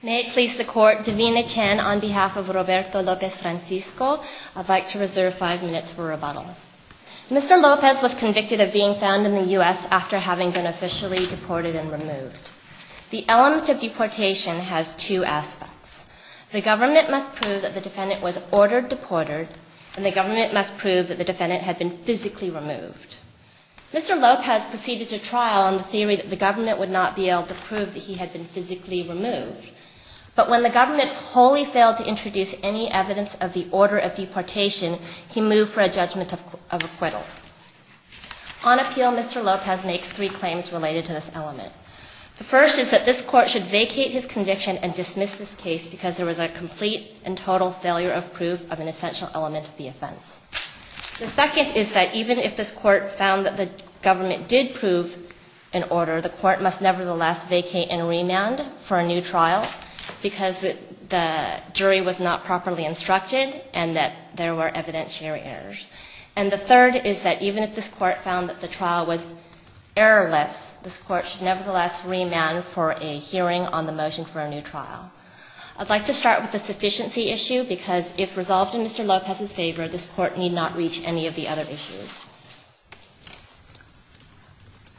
Francisco. I would like to reserve five minutes for rebuttal. Mr. Lopez was convicted of being found in the U.S. after having been officially deported and removed. The element of deportation has two aspects. The government must prove that the defendant was ordered deported and the government must prove that the defendant had been physically removed. Mr. Lopez proceeded to trial on the theory that the government would not be able to prove that he had been physically removed, but when the government wholly failed to introduce any evidence of the order of deportation, he moved for a judgment of acquittal. On appeal, Mr. Lopez makes three claims related to this element. The first is that this court should vacate his conviction and dismiss this case because there was a complete and total failure of proof of an essential element of the offense. The second is that even if this court found that the trial was errorless, this court should nevertheless remand for a hearing on the motion for a new trial. I'd like to start with the sufficiency issue because if resolved in Mr. Lopez's favor, this court need not reach any of the other issues.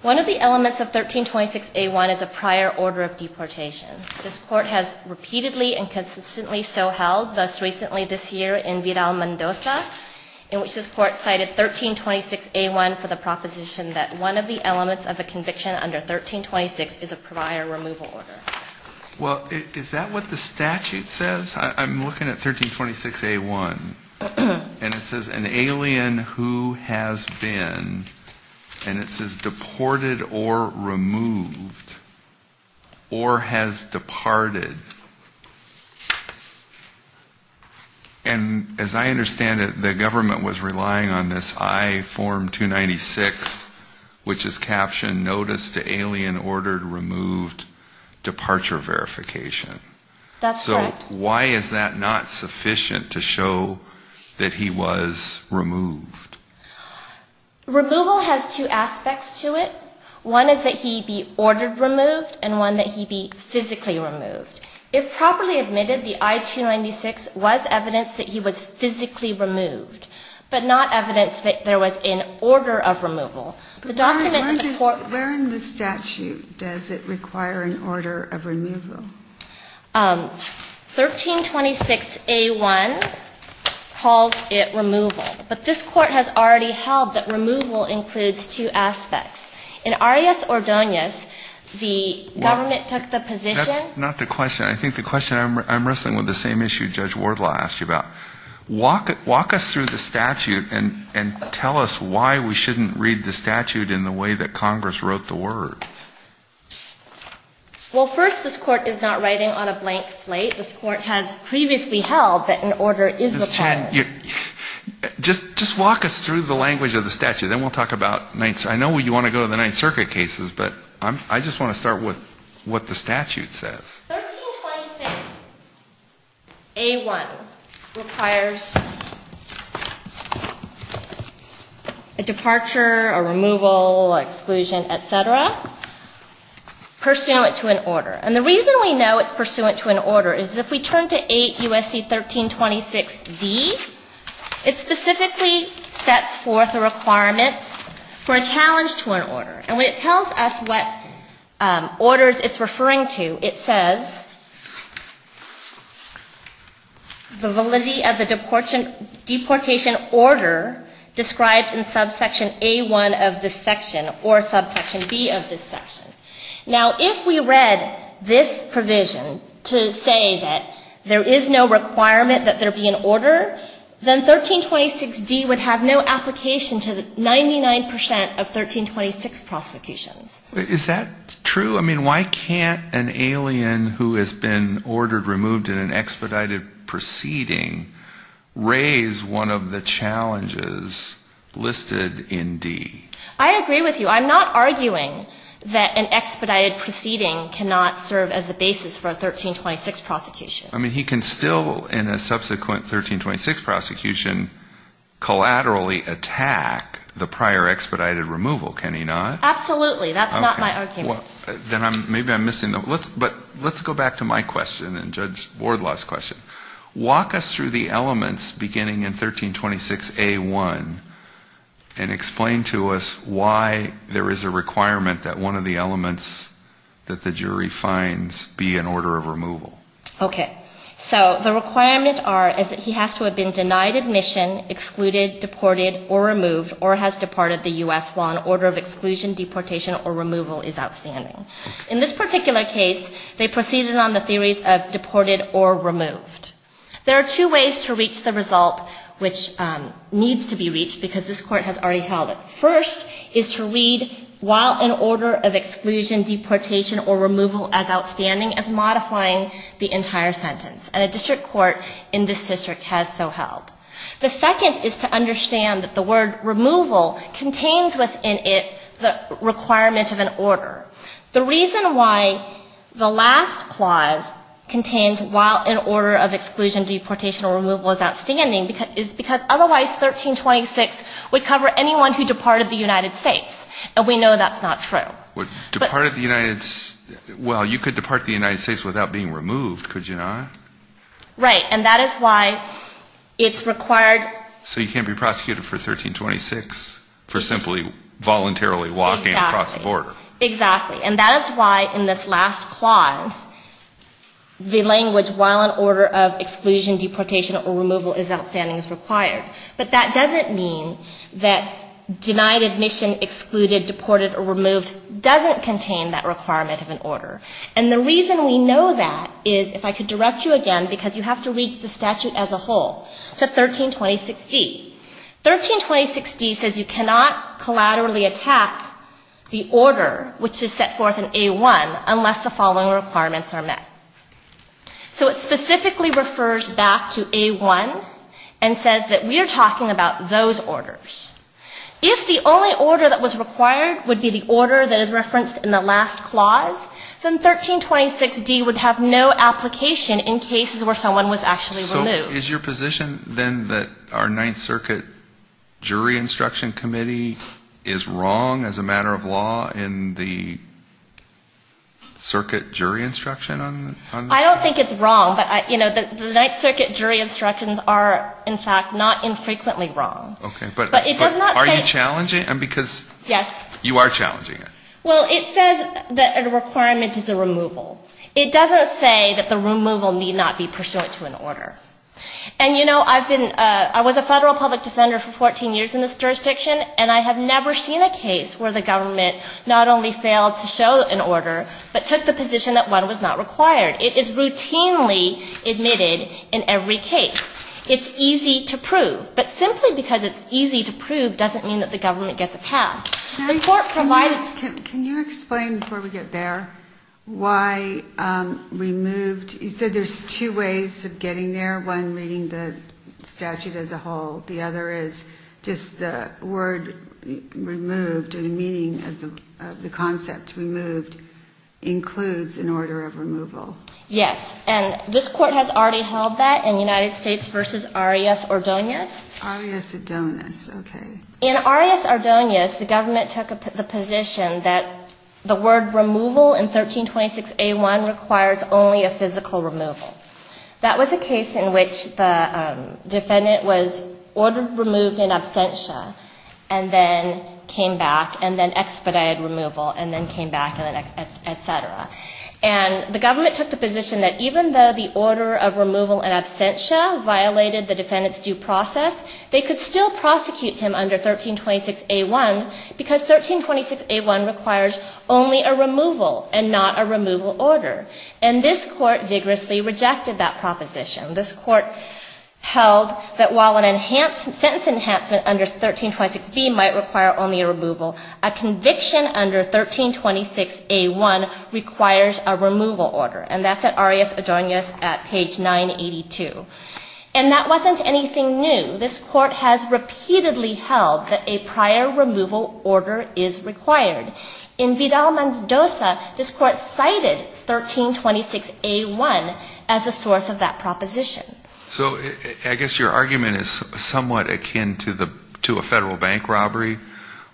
One of the elements of 1326A1 is a prior removal order. Well, is that what the statute says? I'm looking at 1326A1, and it says an alien who has been, and it says deported or removed, or has been removed, has departed. And as I understand it, the government was relying on this I-296, which is captioned, Notice to Alien Ordered Removed Departure Verification. That's correct. So why is that not sufficient to show that he was removed? Removal has two aspects to it. One is that he be ordered removed, and one that he be physically removed. If properly admitted, the I-296 was evidence that he was physically removed, but not evidence that there was an order of removal. The document that the court Where in the statute does it require an order of removal? 1326A1 calls it removal. But this court has already held that removal includes two aspects. In Arias-Ordonez, the government took the position That's not the question. I think the question, I'm wrestling with the same issue Judge Wardlaw asked you about. Walk us through the statute and tell us why we shouldn't read the statute in the way that Congress wrote the word. Well, first, this court is not writing on a blank slate. This court has previously held that an order is required. Just walk us through the language of the statute, and then we'll talk about the Ninth Circuit. I know you want to go to the Ninth Circuit cases, but I just want to start with what the statute says. 1326A1 requires a departure, a removal, exclusion, et cetera, pursuant to an order. And the reason we know it's pursuant to an order is if we turn to 8 U.S.C. 1326D, it specifically sets forth a requirement for a challenge to an order. And when it tells us what orders it's referring to, it says the validity of the deportation order described in subsection A1 of this section or subsection B of this section. Now, if we read this provision to say that there is no requirement that there be an order, then 1326D would have no application to the Ninth Circuit, and it would have no application to the Ninth Circuit. So it's 99% of 1326 prosecutions. Is that true? I mean, why can't an alien who has been ordered removed in an expedited proceeding raise one of the challenges listed in D? I agree with you. I'm not arguing that an expedited proceeding cannot serve as the basis for a challenge. But why can't a subsequent 1326 prosecution collaterally attack the prior expedited removal? Can he not? Absolutely. That's not my argument. Then maybe I'm missing the point. But let's go back to my question and Judge Wardlaw's question. Walk us through the elements beginning in 1326A1 and explain to us why there is a requirement that one of the elements that the jury finds be an order of removal. Okay. So the requirements are that he has to have been denied admission, excluded, deported, or removed, or has departed the U.S. while an order of exclusion, deportation, or removal is outstanding. In this particular case, they proceeded on the theories of deported or removed. There are two ways to reach the result, which needs to be reached, because this Court has already held it. First is to read, while an order of exclusion, deportation, or removal as outstanding, as modifying the order of removal. And a district court in this district has so held. The second is to understand that the word removal contains within it the requirement of an order. The reason why the last clause contains, while an order of exclusion, deportation, or removal is outstanding, is because otherwise 1326 would cover anyone who departed the United States. And we know that's not true. If you were deported or removed, could you not? Right. And that is why it's required. So you can't be prosecuted for 1326 for simply voluntarily walking across the border. Exactly. And that is why in this last clause, the language, while an order of exclusion, deportation, or removal is outstanding, is required. But that doesn't mean that denied admission, excluded, deported, or removed doesn't contain that requirement of an order. So what this means, if I could direct you again, because you have to read the statute as a whole, the 1326D. 1326D says you cannot collaterally attack the order, which is set forth in A1, unless the following requirements are met. So it specifically refers back to A1 and says that we are talking about those orders. If the only order that was required would be the order that is referenced in the last clause, then 1326D would have no application. In cases where someone was actually removed. So is your position, then, that our Ninth Circuit jury instruction committee is wrong as a matter of law in the circuit jury instruction on this case? I don't think it's wrong. But, you know, the Ninth Circuit jury instructions are, in fact, not infrequently wrong. But are you challenging, because you are challenging it? Well, it says that a requirement is a removal. It doesn't say that the removal need not be pursuant to an order. And, you know, I've been, I was a federal public defender for 14 years in this jurisdiction, and I have never seen a case where the government not only failed to show an order, but took the position that one was not required. It is routinely admitted in every case. It's easy to prove. But simply because it's easy to prove doesn't mean that the government gets a pass. Can you explain, before we get there, why removed, you said there's two ways of getting there, one reading the statute as a whole, the other is just the word removed or the meaning of the concept removed includes an order of removal. Yes, and this Court has already held that in United States v. Arias-Ordonez. Arias-Ordonez, okay. In Arias-Ordonez, the government took the position that the word removal in 1326A1 requires only a physical removal. That was a case in which the defendant was ordered removed in absentia, and then came back, and then expedited removal, and then came back, and then, et cetera. And the government took the position that even though the order of removal in absentia violated the defendant's due process, they could still prosecute him under 1326A1 because 1326A1 requires only a removal and not a removal order. And this Court vigorously rejected that proposition. This Court held that while a sentence enhancement under 1326B might require only a removal, a conviction under 1326A1 requires only a removal. And that's at Arias-Ordonez at page 982. And that wasn't anything new. This Court has repeatedly held that a prior removal order is required. In Vidal-Mendoza, this Court cited 1326A1 as a source of that proposition. So I guess your argument is somewhat akin to a federal bank robbery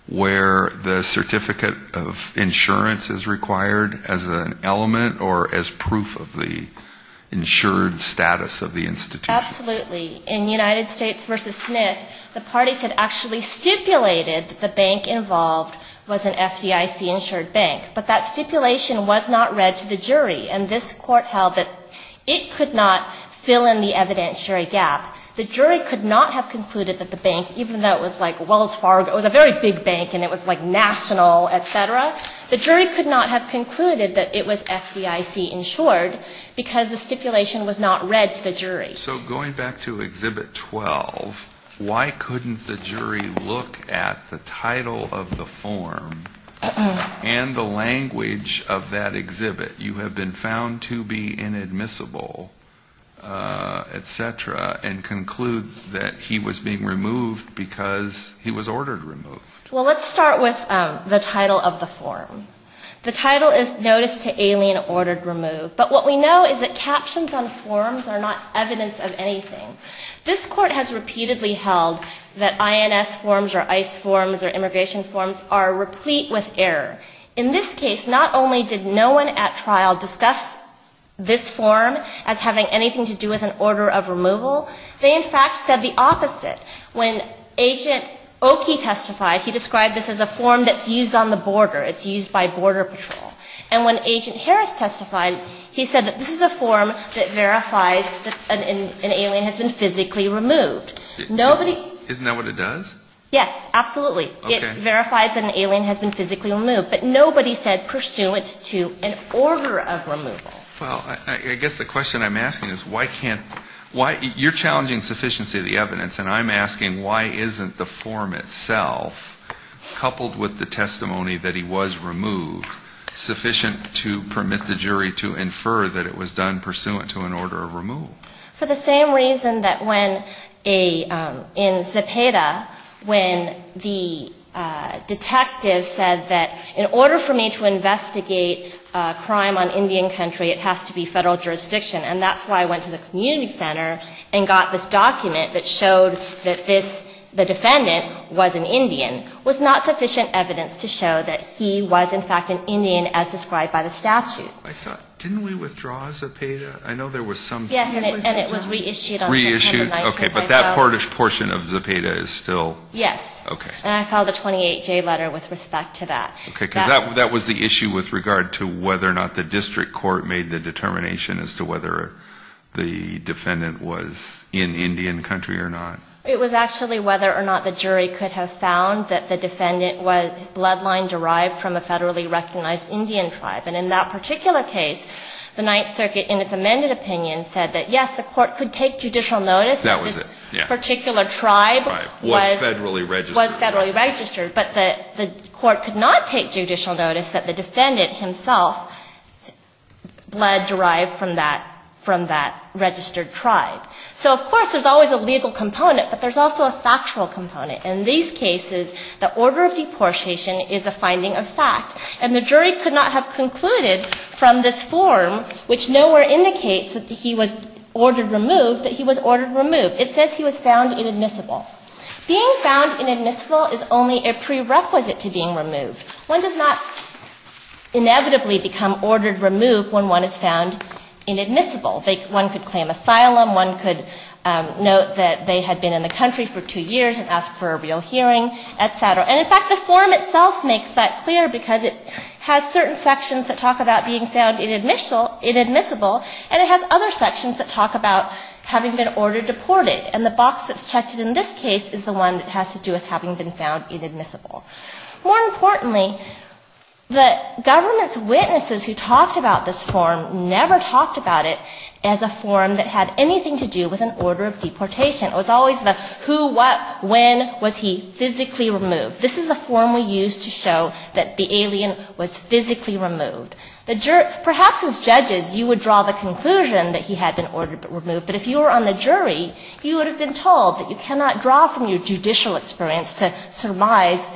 where the certificate of insurance is required as a source of that proposition. Is that an element or as proof of the insured status of the institution? Absolutely. In United States v. Smith, the parties had actually stipulated that the bank involved was an FDIC-insured bank, but that stipulation was not read to the jury, and this Court held that it could not fill in the evidentiary gap. The jury could not have concluded that the bank, even though it was like Wells Fargo, it was a very big bank and it was like national, et cetera, the jury could not have concluded that it was an FDIC-insured bank. It was FDIC-insured because the stipulation was not read to the jury. So going back to Exhibit 12, why couldn't the jury look at the title of the form and the language of that exhibit? You have been found to be inadmissible, et cetera, and conclude that he was being removed because he was ordered removed. Well, let's start with the title of the form. The title is Notice to Alien Ordered Remove, but what we know is that captions on forms are not evidence of anything. This Court has repeatedly held that INS forms or ICE forms or immigration forms are replete with error. In this case, not only did no one at trial discuss this form as having anything to do with an order of removal, they in fact said the opposite. When Agent Oakey testified, he described this as a form that's used on the border. It's used by Border Patrol. And when Agent Harris testified, he said that this is a form that verifies that an alien has been physically removed. Nobody ‑‑ Isn't that what it does? Yes, absolutely. Okay. It verifies that an alien has been physically removed. But nobody said pursuant to an order of removal. Well, I guess the question I'm asking is why can't ‑‑ you're challenging sufficiency of the evidence, and I'm asking why isn't the form itself, coupled with the testimony that he was removed, sufficient to permit the jury to infer that it was done pursuant to an order of removal? For the same reason that when a ‑‑ in Zepeda, when the detective said that in order for me to investigate a crime on Indian country, I would have to have a form. It has to be federal jurisdiction, and that's why I went to the community center and got this document that showed that this, the defendant was an Indian, was not sufficient evidence to show that he was, in fact, an Indian as described by the statute. I thought, didn't we withdraw Zepeda? I know there was some ‑‑ Yes, and it was reissued on September 19th. Reissued. Okay. But that portion of Zepeda is still ‑‑ Yes. Okay. And I filed a 28J letter with respect to that. Okay. Because that was the issue with regard to whether or not the district court made the determination as to whether the defendant was in Indian country or not. It was actually whether or not the jury could have found that the defendant was bloodline derived from a federally recognized Indian tribe. And in that particular case, the Ninth Circuit, in its amended opinion, said that, yes, the court could take judicial notice that this particular tribe was ‑‑ Was federally registered. But the court could not take judicial notice that the defendant himself was blood derived from that ‑‑ from that registered tribe. So, of course, there's always a legal component, but there's also a factual component. In these cases, the order of deportation is a finding of fact. And the jury could not have concluded from this form, which nowhere indicates that he was ordered removed, that he was ordered removed. It says he was found inadmissible. Being found inadmissible is only a prerequisite to being removed. One does not inevitably become ordered removed when one is found inadmissible. One could claim asylum, one could note that they had been in the country for two years and ask for a real hearing, et cetera. And, in fact, the form itself makes that clear, because it has certain sections that talk about being found inadmissible, and it has other sections that talk about having been ordered deported. And the box that's checked in this case is the one that has to do with having been found inadmissible. More importantly, the government's witnesses who talked about this form never talked about it as a form that had anything to do with an order of deportation. It was always the who, what, when was he physically removed. This is a form we use to show that the alien was physically removed. But perhaps as judges you would draw the conclusion that he had been ordered removed. But if you were on the jury, you would have been told that you cannot draw from your judicial experience to surmise.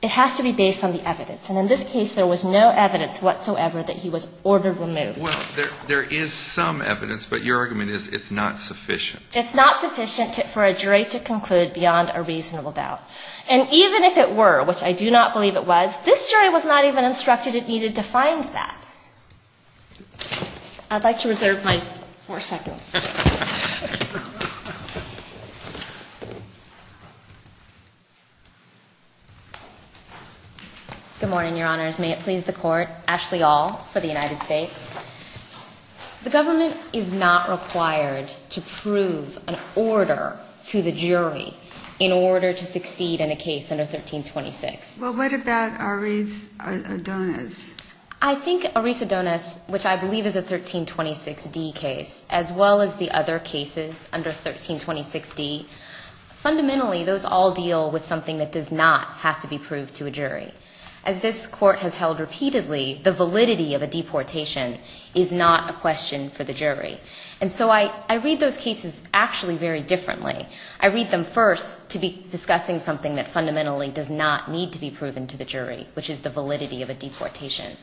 It has to be based on the evidence. And in this case there was no evidence whatsoever that he was ordered removed. Well, there is some evidence, but your argument is it's not sufficient. It's not sufficient for a jury to conclude beyond a reasonable doubt. And even if it were, which I do not believe it was, this jury was not even instructed it needed to find that. I'd like to reserve my four seconds. Good morning, Your Honors. May it please the Court. Ashley Aul for the United States. The government is not required to prove an order to the jury in order to succeed in a case under 1326. Well, what about Aris Adonis? I think Aris Adonis, which I believe is a 1326D case, as well as the other three, are cases under 1326D. Fundamentally, those all deal with something that does not have to be proved to a jury. As this Court has held repeatedly, the validity of a deportation is not a question for the jury. And so I read those cases actually very differently. I read them first to be discussing something that fundamentally does not need to be proven to the jury, which is the validity of a deportation.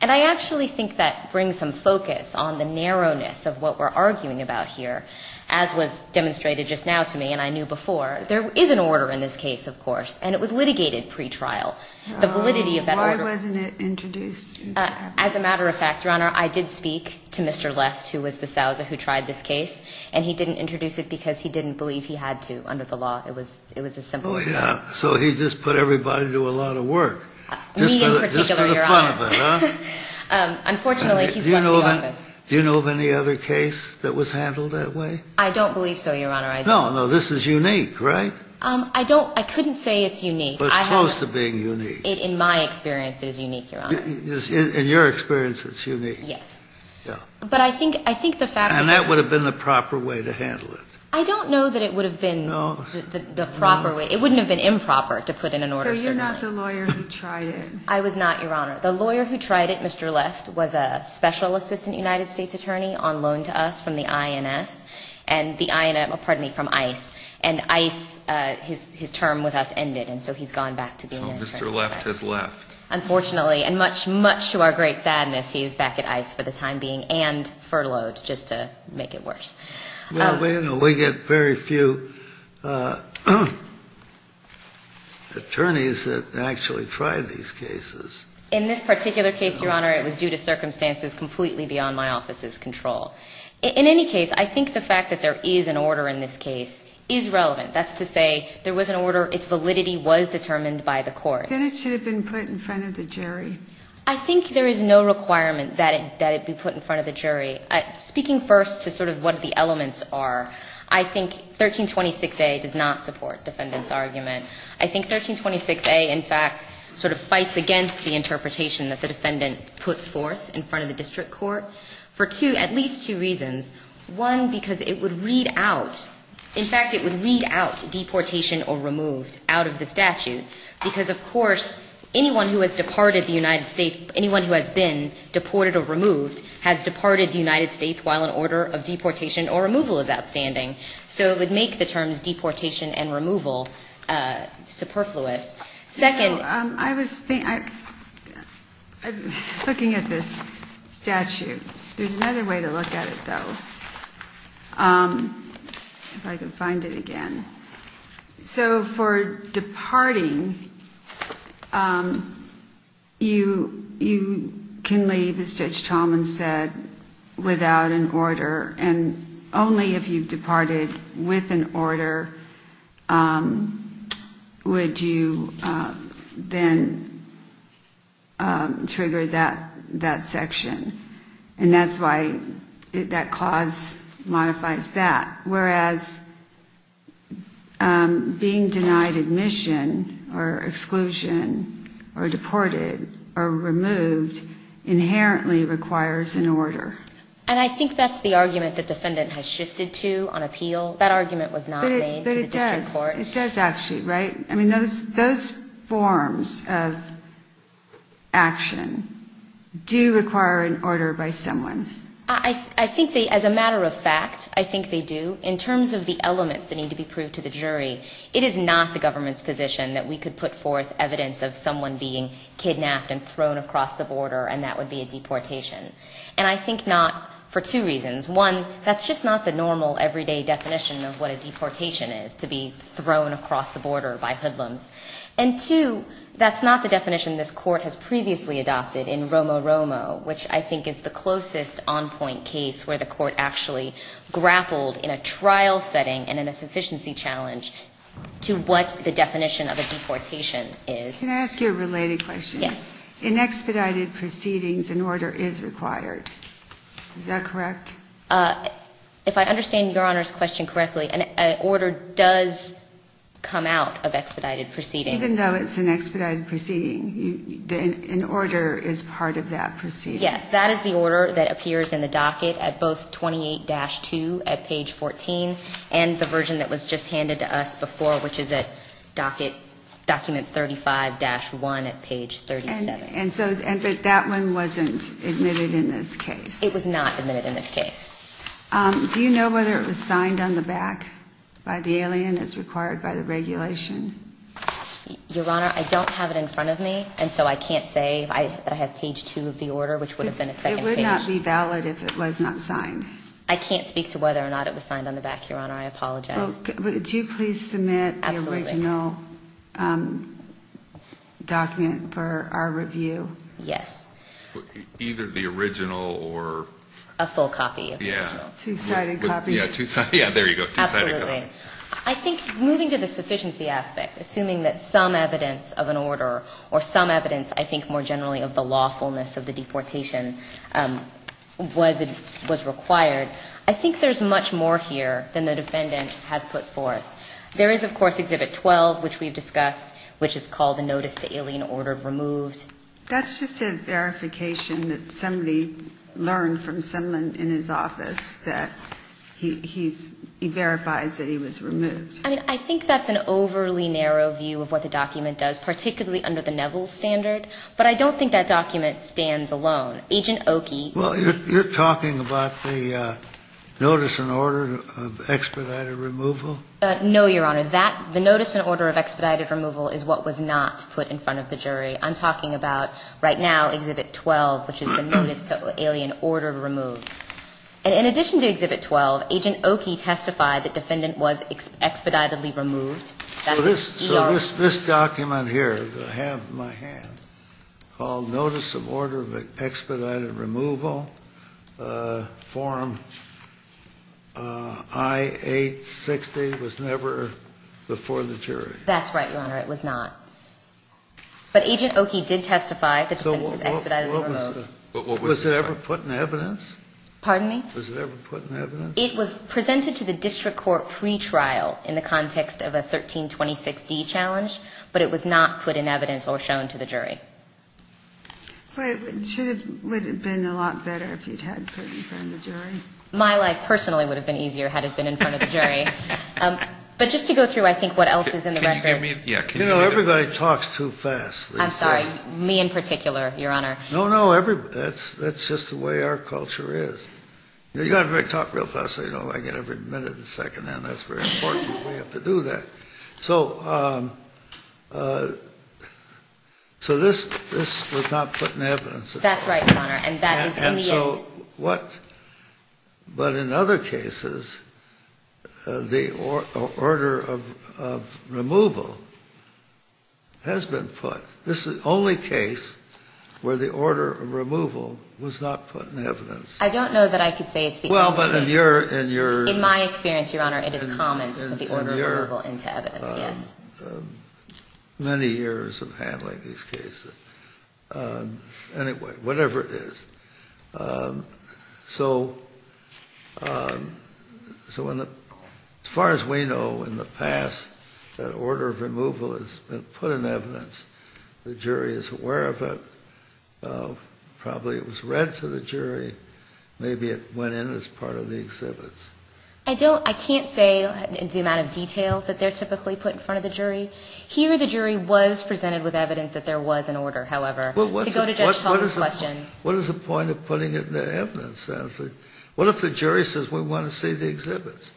And I actually think that brings some focus on the narrowness of what we're arguing about here, as was demonstrated just now to me, and I knew before. There is an order in this case, of course, and it was litigated pretrial. The validity of that order... Why wasn't it introduced? As a matter of fact, Your Honor, I did speak to Mr. Left, who was the Sousa who tried this case, and he didn't introduce it because he didn't believe he had to under the law. It was as simple as that. Oh, yeah. So he just put everybody to a lot of work. We in particular, Your Honor. You're making fun of it, huh? Unfortunately, he's left the office. Do you know of any other case that was handled that way? I don't believe so, Your Honor. No, no. This is unique, right? I don't. I couldn't say it's unique. But it's close to being unique. In my experience, it is unique, Your Honor. In your experience, it's unique. Yes. But I think the fact... And that would have been the proper way to handle it. I don't know that it would have been the proper way. It wouldn't have been improper to put in an order. So you're not the lawyer who tried it? The lawyer who tried it, Mr. Left, was a special assistant United States attorney on loan to us from the INS. And the INS, pardon me, from ICE. And ICE, his term with us ended. And so he's gone back to being an attorney. So Mr. Left has left. Unfortunately. And much, much to our great sadness, he is back at ICE for the time being and furloughed just to make it worse. Well, we get very few... attorneys that actually try these cases. In this particular case, Your Honor, it was due to circumstances completely beyond my office's control. In any case, I think the fact that there is an order in this case is relevant. That's to say there was an order, its validity was determined by the court. Then it should have been put in front of the jury. I think there is no requirement that it be put in front of the jury. Speaking first to sort of what the elements are, I think 1326A does not support defendant's argument. I think 1326A, in fact, sort of fights against the interpretation that the defendant put forth in front of the district court for two, at least two reasons. One, because it would read out, in fact, it would read out deportation or removed out of the statute because, of course, anyone who has departed the United States, anyone who has been deported or removed has departed the United States while an order of deportation or removal is outstanding. So it would make the terms deportation and removal superfluous. Second... I was thinking... I'm looking at this statute. There's another way to look at it, though. If I can find it again. So for departing, you can leave, as Judge Talman said, without an order, and only if you departed with an order would you then trigger that section. And that's why that clause modifies that. Whereas being denied admission or exclusion or deported or removed inherently requires an order. And I think that's the argument that defendant has shifted to on appeal. That argument was not made. But it does. It does actually, right? I mean, those forms of action do require an order by someone. I think they, as a matter of fact, I think they do. In terms of the elements that need to be proved to the jury, it is not the government's position that we could put forth evidence of someone being kidnapped and thrown across the border and that would be a deportation. And I think not for two reasons. One is to be thrown across the border by hoodlums. And two, that's not the definition this Court has previously adopted in Romo-Romo, which I think is the closest on-point case where the Court actually grappled in a trial setting and in a sufficiency challenge to what the definition of a deportation is. Can I ask you a related question? Yes. In expedited proceedings, an order is required. Is that correct? If I understand Your Honor's question correctly, an order does come out of expedited proceedings. Even though it's an expedited proceeding, an order is part of that proceeding. Yes. That is the order that appears in the docket at both 28-2 at page 14 and the version that was just handed to us before, which is at document 35-1 at page 37. But that one wasn't admitted in this case. It was not admitted in this case. Do you know whether it was signed on the back by the alien as required by the regulation? Your Honor, I don't have it in front of me, and so I can't say that I have page 2 of the order, which would have been a second page. It would not be valid if it was not signed. I can't speak to whether or not it was signed on the back, Your Honor. I apologize. Would you please submit the original document for our review? Yes. Either the original or... A full copy of the original. Yeah. There you go. Absolutely. I think moving to the sufficiency aspect, assuming that some evidence of an order or some evidence, I think more generally, of the lawfulness of the deportation was required, I think there's much more here than the defendant has put forth. There is, of course, Exhibit 12, which we've discussed, which is called the Notice to Alien Order Removed. That's just a verification that somebody learned from someone in his office that he verifies that he was removed. I mean, I think that's an overly narrow view of what the document does, particularly under the Neville standard, but I don't think that document stands alone. Agent Oki... Well, you're talking about the Notice and Order of Expedited Removal? No, Your Honor. The Notice and Order of Expedited Removal is what was not put in front of the jury. I'm talking about, right now, Exhibit 12, which is the Notice to Alien Order Removed. And in addition to Exhibit 12, Agent Oki testified that the defendant was expeditedly removed. So this document here, that I have in my hand, called Notice of Order of Expedited Removal, Form I-860, was never before the jury. That's right, Your Honor. It was not. But Agent Oki did testify that the defendant was expeditedly removed. Was it ever put in evidence? Pardon me? Was it ever put in evidence? It was presented to the district court pre-trial in the context of a 1326D challenge, but it was not put in evidence or shown to the jury. But it would have been a lot better if you'd had it put in front of the jury. My life, personally, would have been easier had it been in front of the jury. But just to go through, I think, what else is in the record. You know, everybody talks too fast. I'm sorry. Me in particular, Your Honor. No, no. That's just the way our culture is. You've got to talk real fast so you don't like it every minute and second. And that's very important. We have to do that. So this was not put in evidence. That's right, Your Honor. And that is in the end. But in other cases, the order of removal has been put. This is the only case where the order of removal was not put in evidence. I don't know that I could say it's the only case. Well, but in your. In my experience, Your Honor, it is common to put the order of removal into evidence, yes. Many years of handling these cases. Anyway, whatever it is. So as far as we know in the past, that order of removal has been put in evidence. The jury is aware of it. Probably it was read to the jury. Maybe it went in as part of the exhibits. I don't. I can't say the amount of detail that they're typically put in front of the jury. Here the jury was presented with evidence that there was an order, however. To go to Judge Hall's question. What is the point of putting it in evidence? What if the jury says we want to see the exhibits?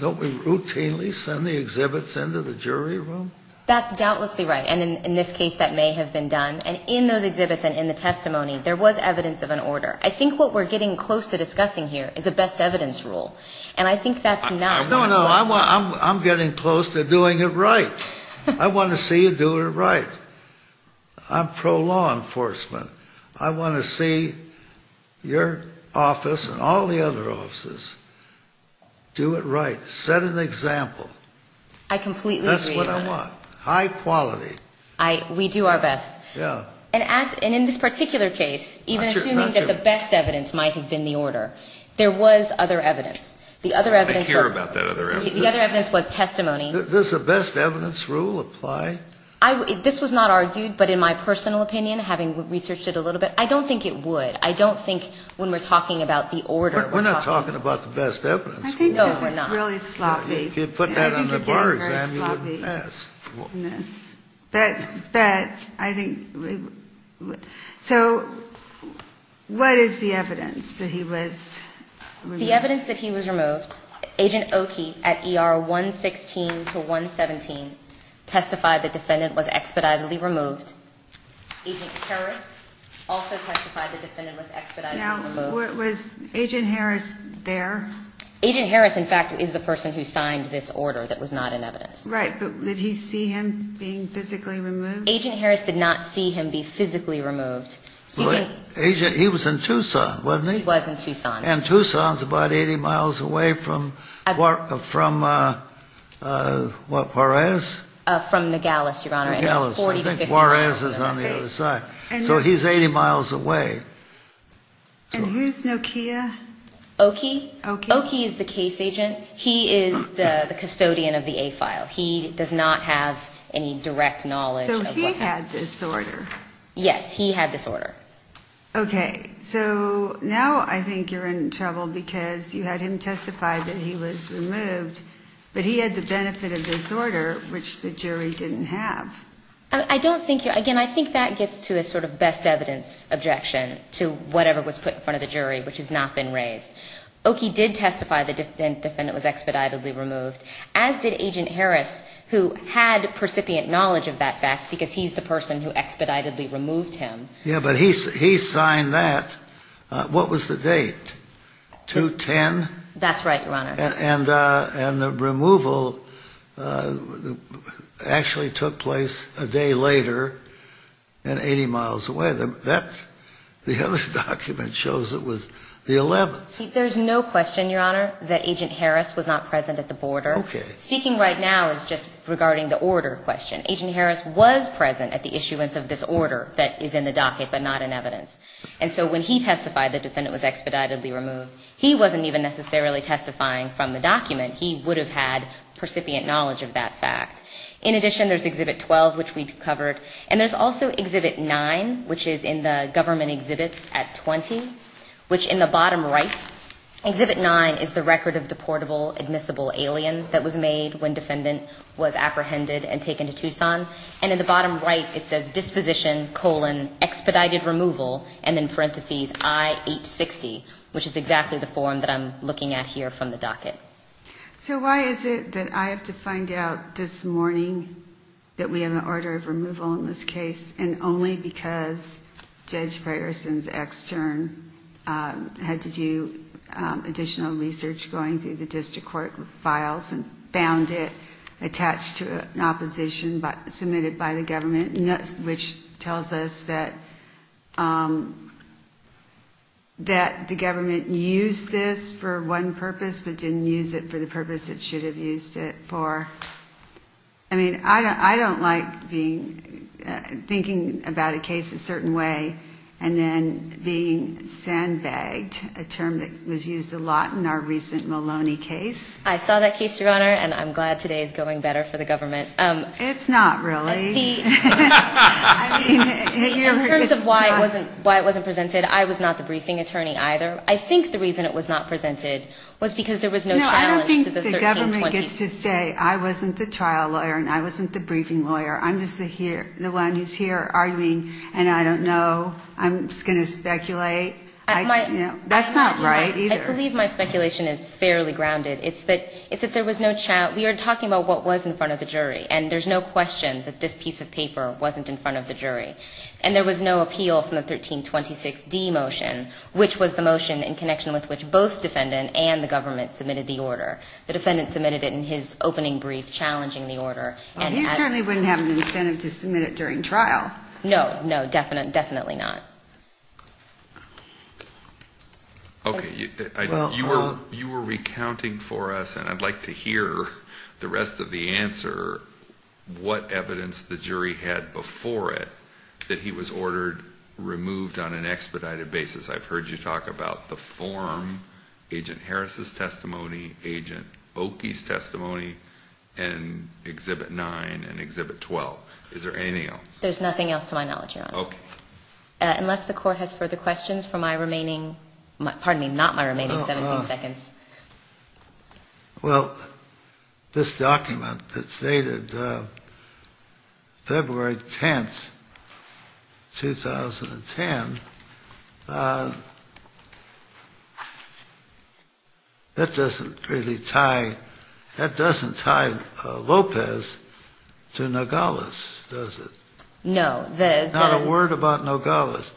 Don't we routinely send the exhibits into the jury room? That's doubtlessly right. And in this case, that may have been done. And in those exhibits and in the testimony, there was evidence of an order. I think what we're getting close to discussing here is a best evidence rule. And I think that's not. No, no, I'm getting close to doing it right. I want to see you do it right. I'm pro-law enforcement. I want to see your office and all the other offices do it right, set an example. I completely agree. That's what I want, high quality. We do our best. And in this particular case, even assuming that the best evidence might have been the order, there was other evidence. I care about that other evidence. The other evidence was testimony. Does the best evidence rule apply? This was not argued, but in my personal opinion, having researched it a little bit, I don't think it would. It's not the best evidence rule. I think this is really sloppy. If you put that on the bar exam, you wouldn't pass. So what is the evidence that he was removed? The evidence that he was removed, Agent Oki at ER 116 to 117 testified the defendant was expeditedly removed. Agent Harris also testified the defendant was expeditedly removed. Now, was Agent Harris there? Agent Harris, in fact, is the person who signed this order that was not in evidence. Right, but did he see him being physically removed? Agent Harris did not see him be physically removed. Agent, he was in Tucson, wasn't he? He was in Tucson. And Tucson's about 80 miles away from, from what, Juarez? From Nogales, Your Honor. Nogales, I think Juarez is on the other side. So he's 80 miles away. And who's Nokia? Oki. Oki is the case agent. He is the custodian of the A file. He does not have any direct knowledge. So he had this order. Yes, he had this order. Okay, so now I think you're in trouble because you had him testify that he was removed, but he had the benefit of this order, which the jury didn't have. I don't think you're, again, I think that gets to a sort of best evidence objection to whatever was put in front of the jury, which has not been raised. Oki did testify the defendant was expeditedly removed, as did Agent Harris, who had percipient knowledge of that fact because he's the person who expeditedly removed him. Yeah, but he, he signed that. What was the date? 210? That's right, Your Honor. And, and the removal actually took place a day later and 80 miles away. That, the other document shows it was the 11th. There's no question, Your Honor, that Agent Harris was not present at the border. Okay. Speaking right now is just regarding the order question. Agent Harris was present at the issuance of this order that is in the docket, but not in evidence. And so when he testified the defendant was expeditedly removed, he wasn't even necessarily testifying from the document. He would have had percipient knowledge of that fact. In addition, there's Exhibit 12, which we covered. And there's also Exhibit 9, which is in the government exhibits at 20, which in the bottom right, Exhibit 9 is the record of deportable admissible alien that was made when defendant was apprehended and taken to Tucson. And in the bottom right, it says disposition, colon, expedited removal, and then parentheses I-860, which is exactly the form that I'm looking at here from the docket. So why is it that I have to find out this morning that we have an order of removal in this case, and only because Judge Priorson's extern had to do additional research going through the district court files and found it attached to an opposition submitted by the government, which tells us that the government used this for one purpose, but didn't use it for the purpose it should have used it for? I mean, I don't like being, thinking about a case a certain way and then being sandbagged, a term that was used a lot in our recent Maloney case. I saw that case, Your Honor, and I'm glad today is going better for the government. It's not really. In terms of why it wasn't presented, I was not the briefing attorney either. I think the reason it was not presented was because there was no challenge to the 1320s. No, I don't think the government gets to say I wasn't the trial lawyer and I wasn't the briefing lawyer. I'm just the one who's here arguing and I don't know. I'm just going to speculate. That's not right either. I believe my speculation is fairly grounded. It's that there was no challenge. We are talking about what was in front of the jury, and there's no question that this piece of paper wasn't in front of the jury. And there was no appeal from the 1326D motion, which was the motion in connection with which both defendant and the government submitted the order. I don't believe challenging the order. He certainly wouldn't have an incentive to submit it during trial. No, no, definitely not. Okay, you were recounting for us, and I'd like to hear the rest of the answer, what evidence the jury had before it that he was ordered removed on an expedited basis. Agent Harris's testimony, Agent Oakey's testimony, and Exhibit 9 and Exhibit 12. Is there anything else? There's nothing else to my knowledge, Your Honor. Okay. Unless the court has further questions for my remaining, pardon me, not my remaining 17 seconds. Well, this document that's dated February 10th, 2010, that doesn't really tie, that doesn't tie Lopez to Nogales, does it? No. There's not a word about Nogales,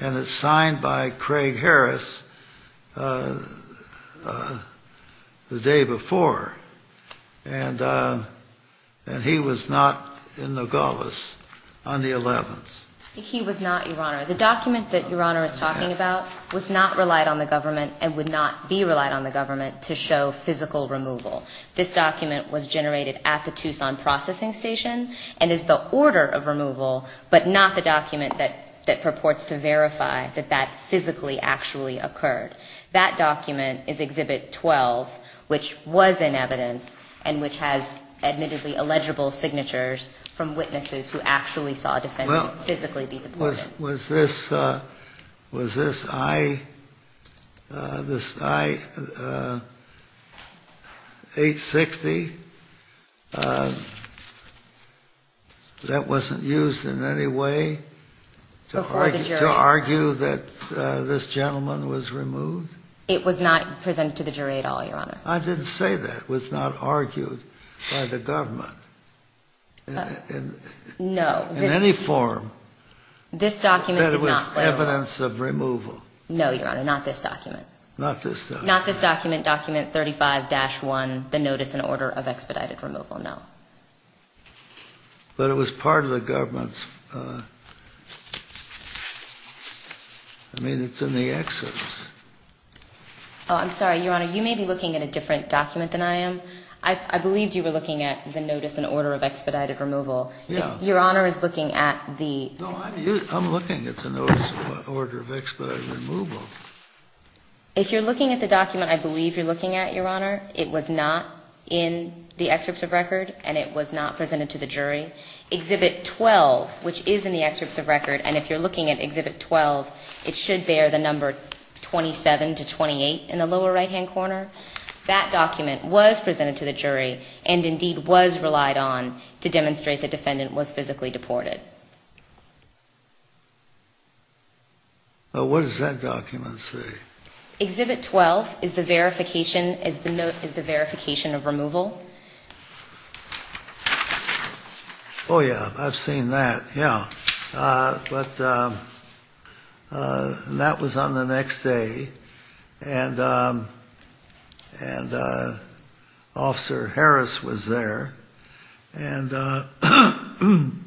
and it's signed by Craig Harris the day before, and he was not in Nogales on the 11th. He was not, Your Honor. The document that Your Honor is talking about was not relied on the government and would not be relied on the government to show physical removal. This document was generated at the Tucson processing station and is the order of removal, but not the document that purports to verify that that physically actually occurred. That document is Exhibit 12, which was in evidence and which has admittedly illegible signatures from witnesses who actually saw a defendant physically be deported. Well, was this, was this I, this I-860, that wasn't used in any way to argue that this gentleman was removed? It was not presented to the jury at all, Your Honor. I didn't say that. It was not argued by the government in any form. No, this document did not. That was evidence of removal. No, Your Honor, not this document. Not this document. Not this document, document 35-1, the notice and order of expedited removal, no. But it was part of the government's, I mean, it's in the exodus. Oh, I'm sorry, Your Honor, you may be looking at a different document than I am. I believed you were looking at the notice and order of expedited removal. Yeah. Your Honor is looking at the... No, I'm looking at the notice and order of expedited removal. If you're looking at the document, I believe you're looking at, Your Honor, it was not in the excerpts of record and it was not presented to the jury. Exhibit 12, which is in the excerpts of record, and if you're looking at Exhibit 12, it should bear the number 27 to 28 in the lower right-hand corner. That document was presented to the jury and indeed was relied on to demonstrate the defendant was physically deported. What does that document say? Exhibit 12 is the verification of removal. Oh, yeah, I've seen that. Yeah. But that was on the next day and Officer Harris was there and he said, you know, I don't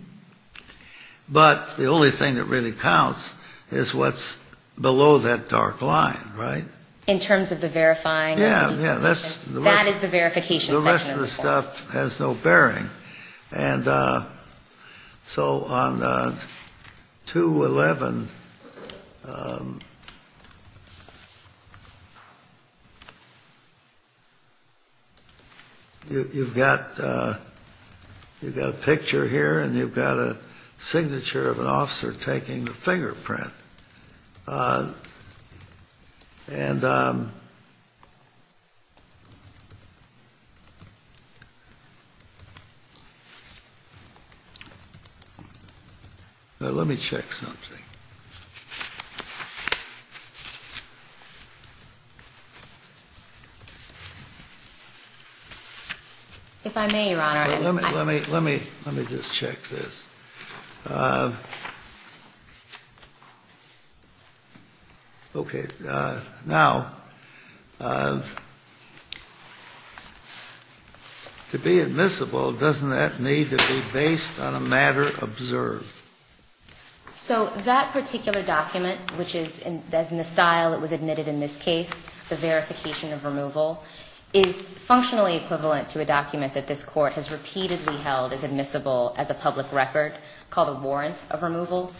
know if it really counts, but the only thing that really counts is what's below that dark line, right? In terms of the verifying... Yeah, yeah. That is the verification section of the court. The rest of the stuff has no bearing. And so on 211, you've got a picture here and you've got a... You've got a signature of an officer taking the fingerprint. And... Let me check something. If I may, Your Honor... Let me just check this. Okay. Now, to be admissible, doesn't that need to be based on a matter observed? So that particular document, which is in the style that was admitted in this case, the verification of removal, is functionally equivalent to a document that this Court has repeatedly held as admissible as a public record called a warrant of removal.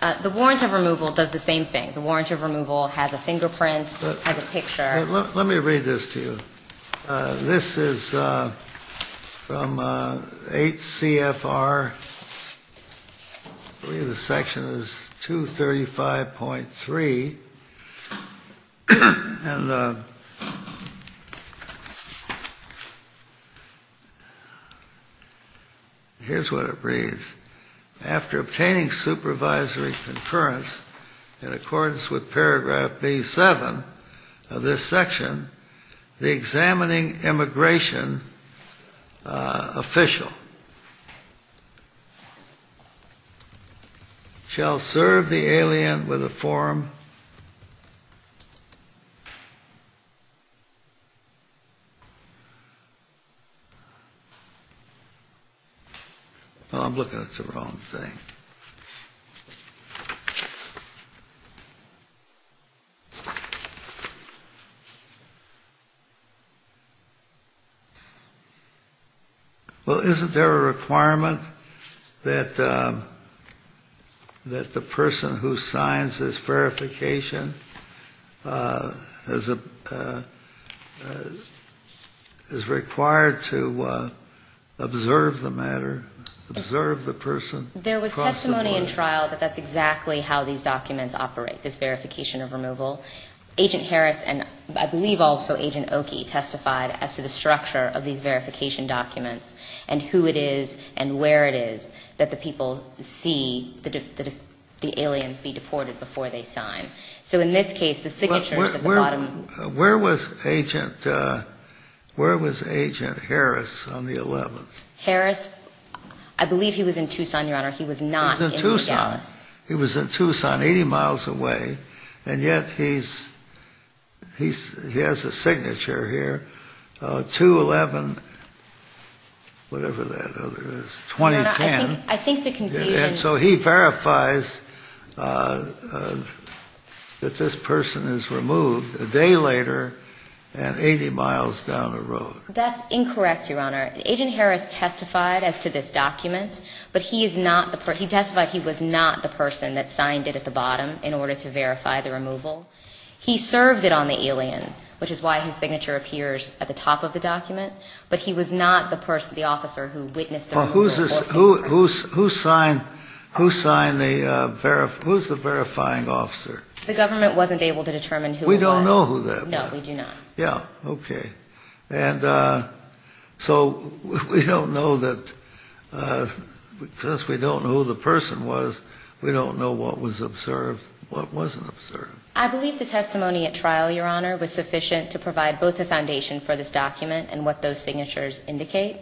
The warrant of removal does the same thing. The warrant of removal has a fingerprint, has a picture. Let me read this to you. This is from HCFR. The section is 235.3. And here's what it reads. After obtaining supervisory conference in accordance with paragraph B-7 of this section, the examining immigration official shall serve the alien with a form... Oh, I'm looking at the wrong thing. Well, isn't there a requirement that the person who signs this verification has a is required to observe the matter, observe the person? There was testimony in trial that that's exactly how these documents operate, this verification of removal. Agent Harris and I believe also Agent Oki testified as to the structure of these verification documents and who it is and where it is that the people see the aliens be deported before they sign. So in this case, the signature is at the bottom. Where was Agent Harris on the 11th? Harris, I believe he was in Tucson, Your Honor. He was not in Dallas. He was in Tucson. He was in Tucson, 80 miles away. And yet he's he has a signature here, 2-11 whatever that other is, 2010. I think the confusion... So he verifies that this person is removed a day later and 80 miles down the road. That's incorrect, Your Honor. Agent Harris testified as to this document, but he is not the person he testified he was not the person that signed it at the bottom in order to verify the removal. He served it on the alien, which is why his signature appears at the top of the document, but he was not the person, the officer who witnessed the removal. Who signed the who's the verifying officer? The government wasn't able to determine who it was. We don't know who that was. And so we don't know that because we don't know who the person was, we don't know what was observed, what wasn't observed. I believe the testimony at trial, Your Honor, was sufficient to provide both a foundation for this document and what those signatures indicate.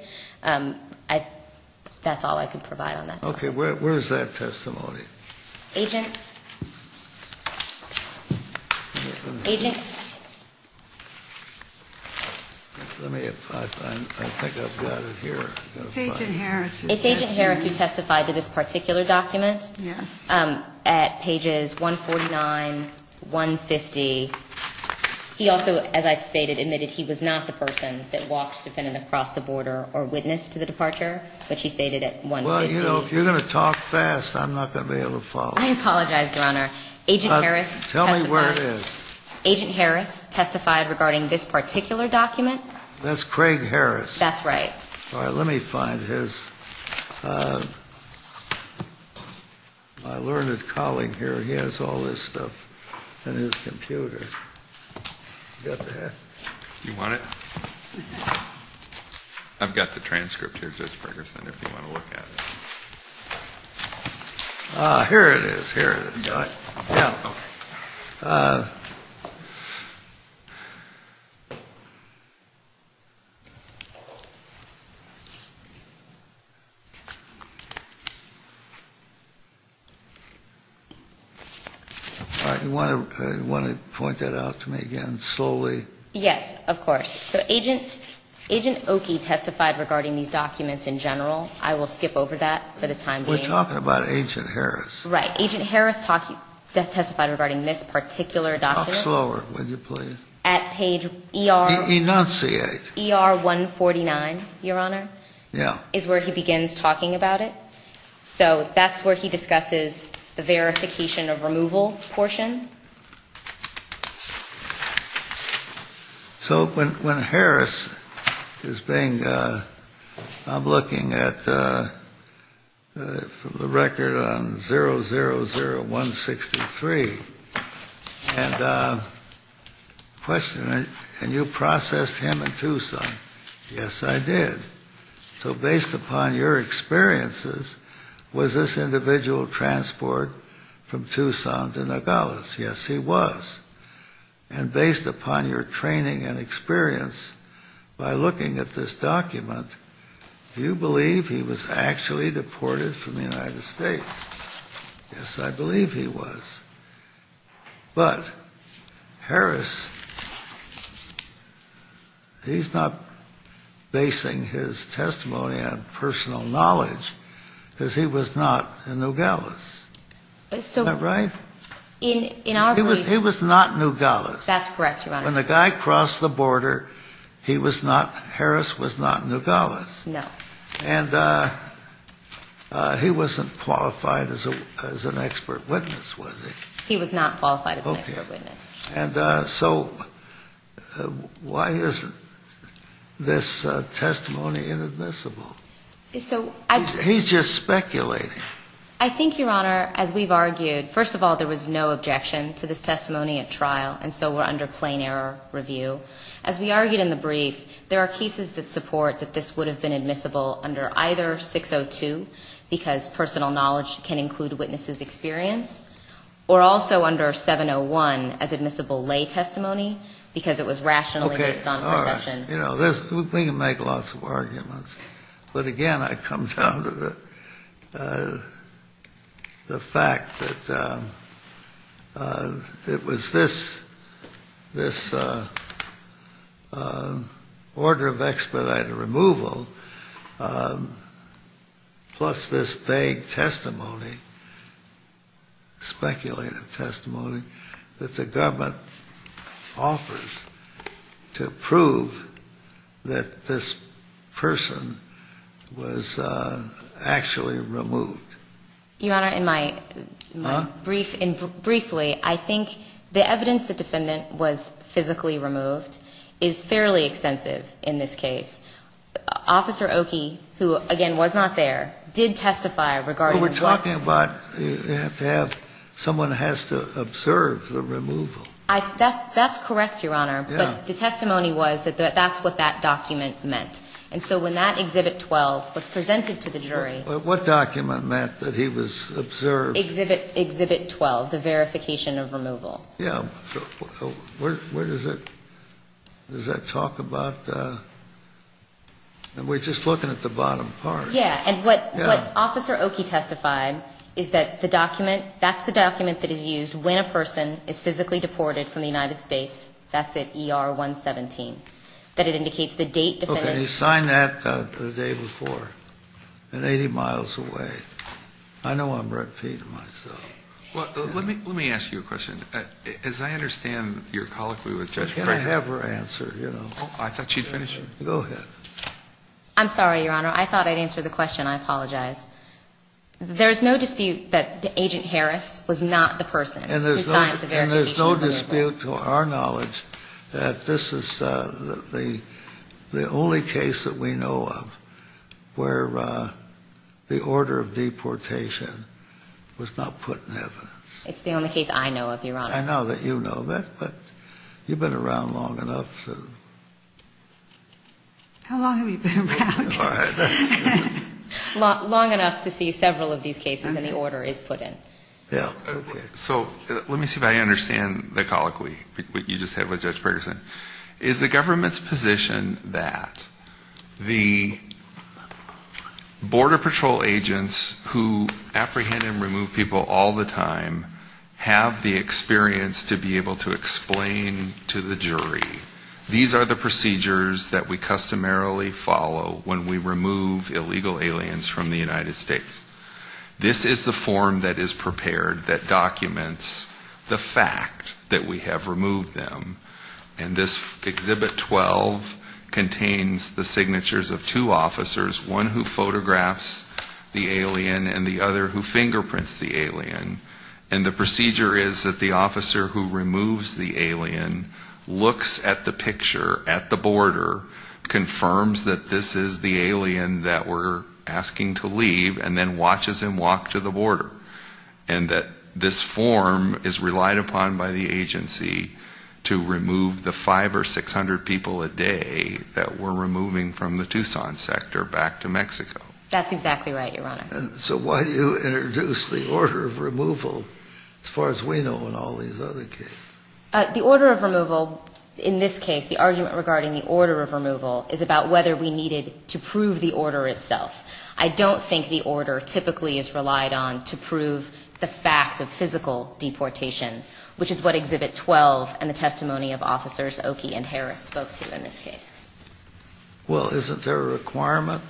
That's all I can provide on that. Okay, where's that testimony? Agent. Agent. Tell me if I think I've got it here. It's Agent Harris. It's Agent Harris who testified to this particular document. Yes. At pages 149, 150. He also, as I stated, admitted he was not the person that walked defendant across the border or witnessed the departure, which he stated at 150. Well, you know, if you're going to talk fast, I'm not going to be able to follow. I apologize, Your Honor. Tell me where it is. It's Craig Harris. That's right. All right, let me find his... My learned colleague here, he has all this stuff in his computer. You got that? You want it? I've got the transcript here, Judge Ferguson, if you want to look at it. Ah, here it is, here it is. Yeah. Okay. All right. You want to point that out to me again slowly? Yes, of course. So Agent Oki testified regarding these documents in general. I will skip over that for the time being. We're talking about Agent Harris. Right. Agent Harris testified regarding this particular document. At page ER... Enunciate. ER... Enunciate. ER 149, Your Honor. Yeah. Is where he begins talking about it. So that's where he discusses the verification of removal portion. So when Harris is being... I'm looking at the record on 000163 and the question... And you processed him in Tucson. Yes, I did. So based upon your experiences, was this individual transported from Tucson to Nogales? Yes, he was. And based upon your training and experience by looking at this document, do you believe he was actually deported from the United States? Yes, I believe he was. But Harris he's not basing his testimony on personal knowledge because he was not in Nogales. So... Isn't that right? In our belief... He was not in Nogales. That's correct, Your Honor. When the guy crossed the border, he was not... Harris was not in Nogales. No. And he wasn't qualified as an expert witness, was he? He was not qualified as an expert witness. Okay. And so why is this testimony inadmissible? So... He's just speculating. I think, Your Honor, as we've argued, first of all, there was no objection to this testimony at trial and so we're under plain error review. As we argued in the brief, there are cases that support that this would have been admissible under either 602 because personal knowledge can include a witness's experience or also under 701 as admissible lay testimony because it was rationally based on perception. Okay. All right. You know, we can make lots of arguments, but again, I come down to the fact that it was this this order of expedited removal plus this vague testimony, speculative testimony, that the government offers to prove that this person was actually removed. Your Honor, in my briefly, I think the evidence the defendant was physically removed is fairly extensive in this case. Officer Oki, who, again, was not there, did testify regarding Well, we're talking about you have to have someone has to observe the removal. That's correct, Your Honor. But the testimony was that that's what that document meant. And so when that Exhibit 12 was presented to the jury What document meant that he was observed? Exhibit 12, the verification of removal. Yeah. Where does it does that talk about We're just looking at the bottom part. Yeah. And what Officer Oki testified is that the document that's the document that is used when a person is physically deported from the United States. That's it. ER 117. That it indicates the date. He signed that the day before and 80 miles away. I know I'm repeating myself. Well, let me let me ask you a question. As I understand your colloquy with Judge Can I have her answer? You know, I thought she'd finish. Go ahead. I'm sorry, Your Honor. I thought I'd answer the question. I apologize. There is no dispute that the agent Harris was not the person and there's no and there's no dispute to our knowledge that this is the the only case that we know of where the order of deportation was not put in evidence. It's the only case I know of, Your Honor. I know that you know that, but you've been around long enough to How long have you been around? All right. Long enough to see several of these cases and the order is put in. Yeah. Okay. So let me see if I understand the colloquy that you just had with Judge Patterson. Is the government's position that the border patrol agents who apprehend and remove people all the time have the experience to be able to explain to the jury these are the procedures that we customarily follow when we remove illegal aliens from the United States. This is the form that is prepared that documents the fact that we have removed them. And this Exhibit 12 contains the signatures of two officers, one who photographs the alien and the other who fingerprints the alien. And the procedure is that the officer who removes the alien at the border, confirms that this is the alien that we're asking to leave, and then watches him walk to the border. And that this form is relied upon by the agency to remove the five or six hundred people a day that we're removing from the Tucson sector back to Mexico. That's exactly right, Your Honor. So why do you introduce the order of removal as far as we know in all these other cases? The order of removal, in this case, the argument regarding the order of removal is about whether we needed to prove the order itself. I don't think the order typically is relied on to prove the fact of physical deportation, which is what Exhibit 12 and the testimony of officers Oki and Harris spoke to in this case. Well, isn't there a requirement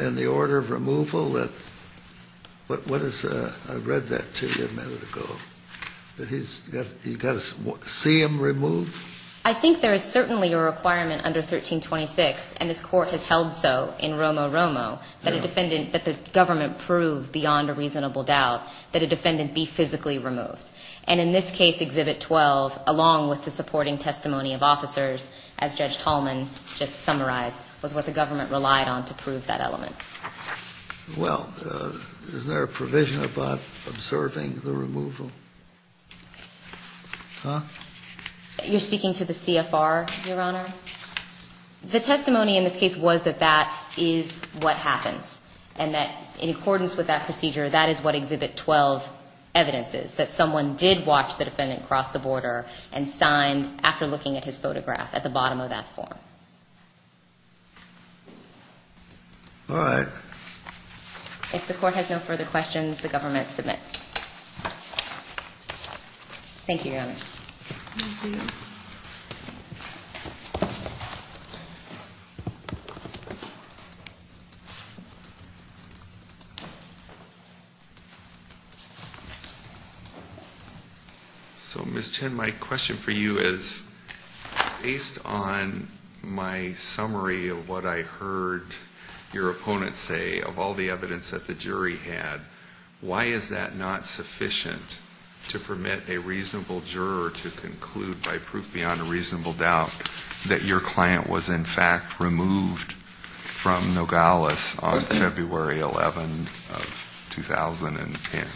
in the order of removal that, what is, I read that to you a minute ago, that you've got to see him removed? I think there is certainly a requirement under 1326, and this Court has held so in Romo-Romo, that a defendant, that the government prove beyond a reasonable doubt that a defendant be physically removed. And in this case, Exhibit 12, along with the supporting testimony of officers, as Judge Tallman just summarized, was what the government relied on to prove that element. Well, is there a provision about observing the removal? Huh? You're speaking to the CFR, Your Honor? The testimony in this case was that that is what happens, and that in accordance with that procedure, that is what Exhibit 12 evidence is, that someone did watch the defendant cross the border and signed, after looking at his photograph, at the bottom of that form. If the Court has no further questions, the government submits. Thank you, Your Honors. So, Ms. Chen, my question for you is, based on my summary of what I heard your opponent say, of all the evidence that the jury had, why is that not sufficient to permit a reasonable juror to conclude, that your client was, in fact, removed from Nogales on 7th and 8th? Well, that's February 11th of 2010.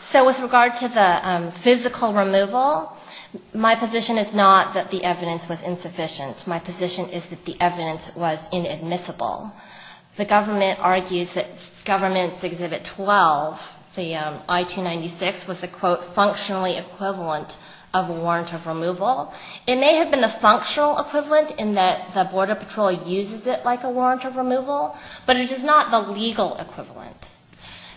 So, with regard to the physical removal, my position is not that the evidence was insufficient. My position is that the evidence was inadmissible. The government argues that Government's Exhibit 12, the I-296, was the, quote, functionally equivalent of a warrant of removal. It may have been the functional equivalent in that the Border Patrol uses it like a warrant of removal, but it is not the legal equivalent.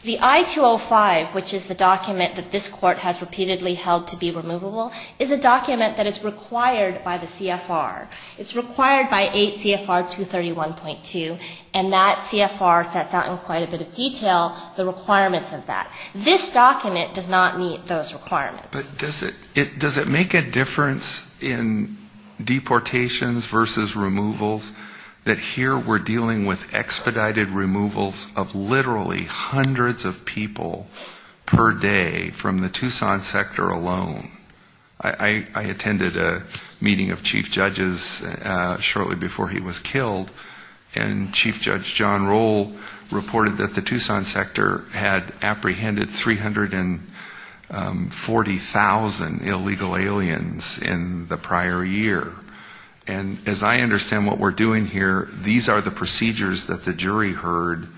The I-205, which is the document that this Court has repeatedly held to be removable, is a document that is required by the CFR. It's required by 8 CFR 231.2, and that CFR sets out in quite a bit of detail the requirements of that. This document does not meet those requirements. But does it make a difference in deportations versus removals, that here we're dealing with expedited removals of literally hundreds of people per day from the Tucson sector alone. I attended a meeting of chief judges shortly before he was killed, and Chief Judge John Roll reported that the Tucson sector had apprehended 340,000 illegal aliens in the prior year. And as I understand what we're doing here, these are the procedures that the jury heard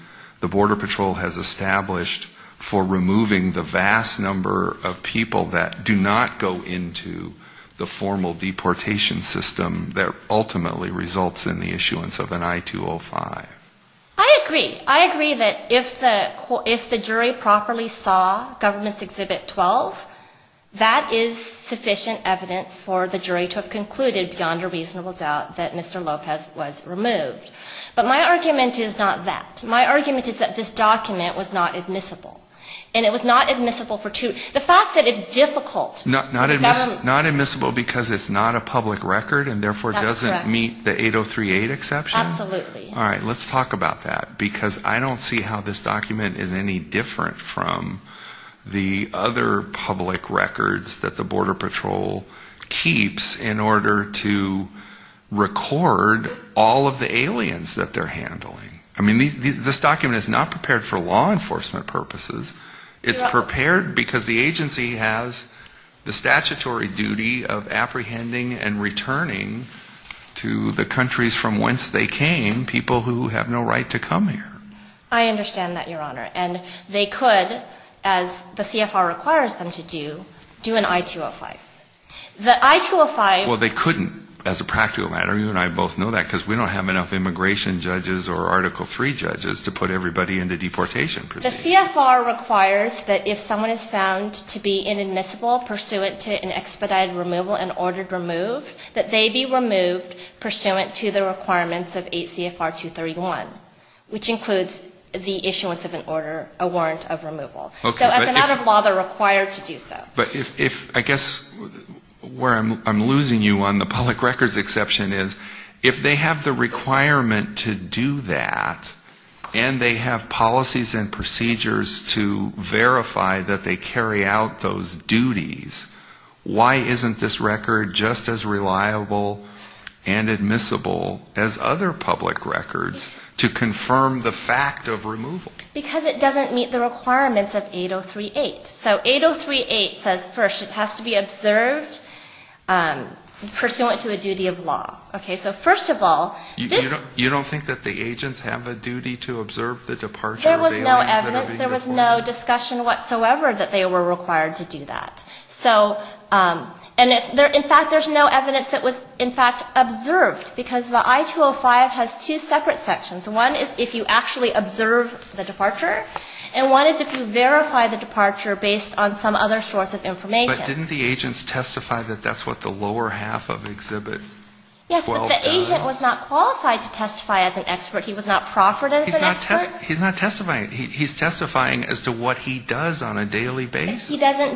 the Border Patrol has established for removing the vast number of people that do not go into the formal deportation system that ultimately results in the issuance of an I-205. I agree. I agree that if the jury properly saw Government's Exhibit 12, that is sufficient evidence for the jury to have concluded beyond a reasonable doubt that Mr. Lopez was removed. But my argument is not that. My argument is that this document was not admissible. And it was not admissible for two... The fact that it's difficult... Not admissible because it's not a public record and therefore doesn't meet the 8038 exception? Absolutely. All right, because I don't see how this document is any different from the other public records that the Border Patrol keeps in order to record all of the aliens that they're handling. I mean, this document is not prepared for law enforcement purposes. It's prepared because the agency has the statutory duty of apprehending and returning to the countries from whence they came, people who have no right to come here. I understand that, Your Honor. And they could, as the immigration judges or Article III judges, to put everybody into deportation. The CFR requires that if someone is found to be inadmissible pursuant to an expedited removal and ordered removed, that they be removed pursuant to the requirements of 8 CFR 231, which includes the issuance of an admissible warrant of removal. So as a matter of law, they're required to do so. I guess where I'm losing you on the public records exception is if they have the requirement to do that and they have policies and procedures to verify that they carry out those duties, why isn't this record just as reliable and admissible as other public records to confirm the fact of removal? Because it doesn't meet the requirements of 8038. So 8038 says first it has to be observed pursuant to a duty of law. Okay. So first of all, this You don't think that the agents have a duty to observe the departure of the I-205. They were required to do that. In fact, there's no evidence that was in fact observed because the I-205 has two separate sections. One is if you actually observe the departure and one is if you verify the departure based on some other source of information. But didn't the agents testify that that's what the lower section of the I-205 does? And he doesn't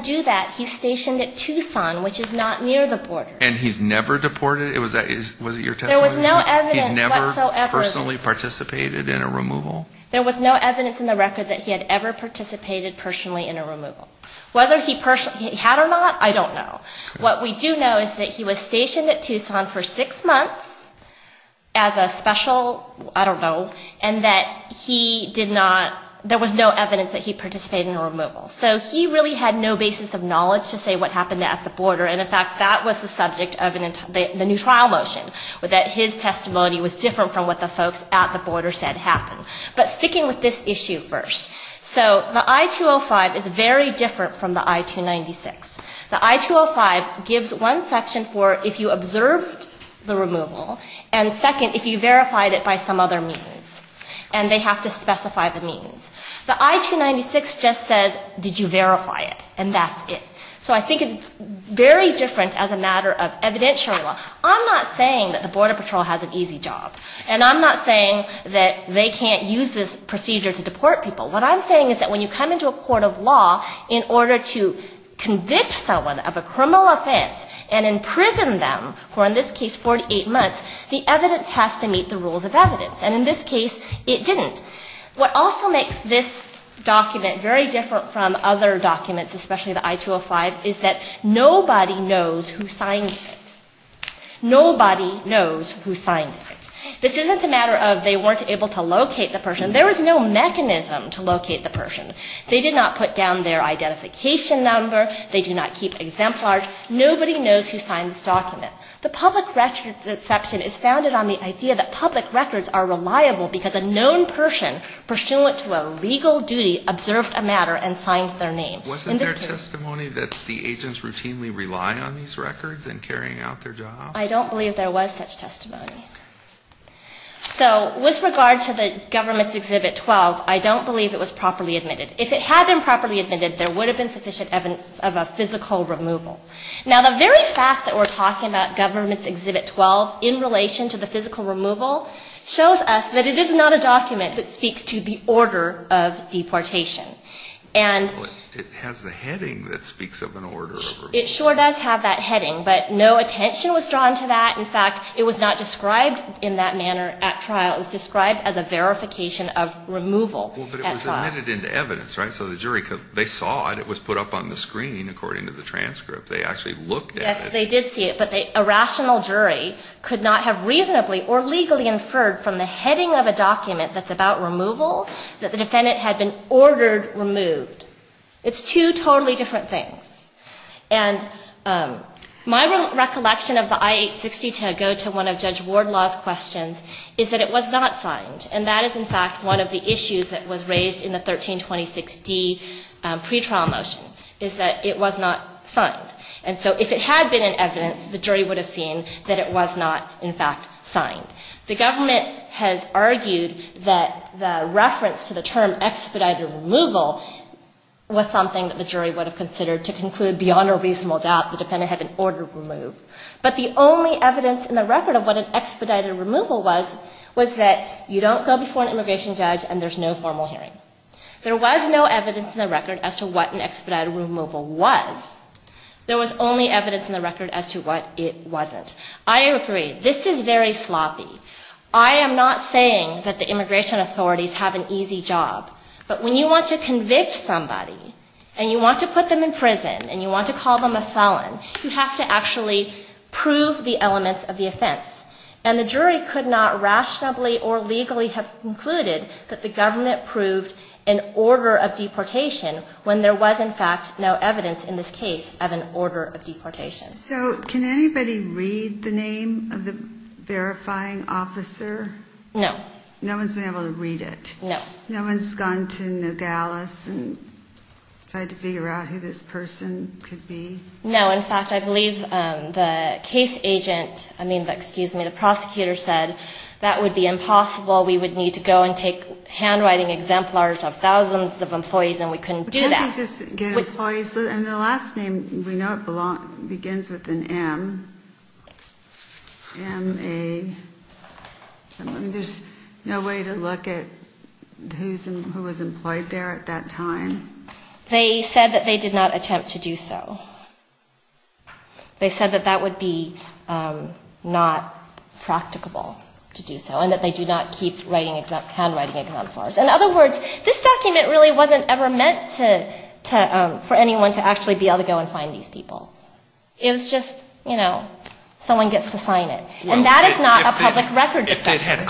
do that. He's stationed at Tucson, which is not near the border. There was no evidence in the record that he had ever participated personally in a removal. Whether he had or not, I don't know. What we do know is that he was stationed at Tucson for six months as a special, I don't know, and that he did not, there was no evidence that he participated in a removal. So he really had no basis of knowledge to say what happened at the border. And in fact, that was the subject of the new trial motion that his testimony was different from what the folks at said. So the I-205 is very different from the I-296. The I-205 gives one section for if you observed the removal and second if you verified it by some other means. And they have to specify the means. The I-296 just says did you verify it and that's it. So I think it's very different as a matter of evidentiary law. I'm not saying that the Border Patrol has an easy job. And I'm not saying that they can't use this procedure to deport people. What I'm saying is that when you come into a court of law in order to convict someone of a criminal offense, to locate the person. The problem with this document is that nobody knows who signed it. Nobody knows who signed it. This isn't a matter of they weren't able to I'm not saying that the agents routinely rely on these records and carry out their job. I don't believe there was such testimony. So with regard to the government's exhibit 12, I don't believe it was properly admitted. If it had been properly admitted, there would have been sufficient evidence of a physical removal. Now, the very fact that we're talking about government's exhibit 12 in relation to the physical removal shows us that it is not a document that speaks to the order of deportation. And it does have that heading. But no attention was drawn to that. In fact, it was not described in that manner at trial. It was described as a verification of removal. But it was admitted into evidence, right? So the jury could not have reasonably or legally inferred from the heading of a document that's about removal that the defendant had been ordered removed. It's two totally different things. And my recollection of the I-860 to go to one of Judge Ward Law's questions is that it was not signed. And so if it had been in evidence, the jury would have seen that it was not, in fact, signed. The government that the reference to the term expedited removal was something that the jury would have considered to conclude beyond a reasonable doubt the defendant had been ordered removed. But the only evidence in the record of what an expedited removal was, was that you don't go before an immigration judge and there's no formal hearing. There was no evidence in the record as to what an expedited removal was. There was only evidence in the removal was. And so you have to actually prove the elements of the offense. And the jury could not rationally or legally have concluded that the government proved an order of deportation when there was, in fact, no evidence in this case of an order of deportation. So can anybody read the name of the verifying officer? No. No one's been able to read it? No. No one's gone to Nogales and tried to figure out who this person could be? No, in fact, I believe the case agent, I mean, excuse me, the prosecutor said that would be impossible. We would need to go and take handwriting exemplars of thousands of employees and we couldn't do that. Can't they just get employees? And the last name, we know it begins with an M. There's no way to look at who was employed there at that time? They said that they did not attempt to do so. They said that that would be not practicable to do so and that they do not keep handwriting exemplars. In other words, this document really wasn't ever meant for anyone to actually be able to go and find these people. It was just, you know, someone gets to sign it. And that is not a way to find them. So if they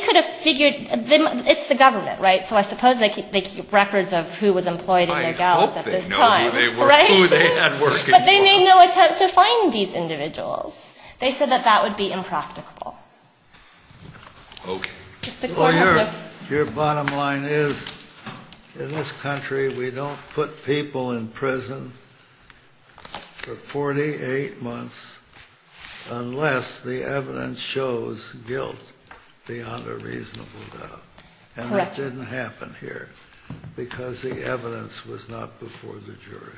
could have figured them, it's the government, right? So I suppose they keep records of who was employed at this time. But they made no attempt to find these individuals. They said that that would be impracticable. Your bottom line is in this country we don't put people in prison for 48 months unless the evidence shows guilt beyond a reasonable doubt. And that didn't happen here because the evidence was not before the jury.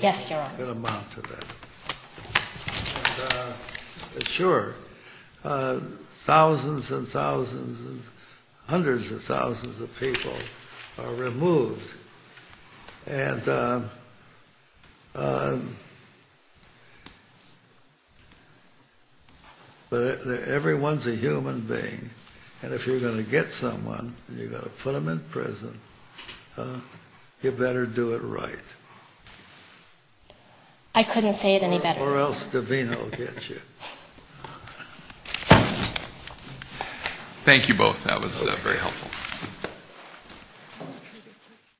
Yes, Your Honor. It amounted to that. And, sure, thousands and thousands and hundreds of thousands of people are removed and, but everyone's a human being and if you're going to get someone and you've got to put them in prison, you better do it right. I couldn't say it any better. Or else DeVino will get you. Thank you both. That was very helpful.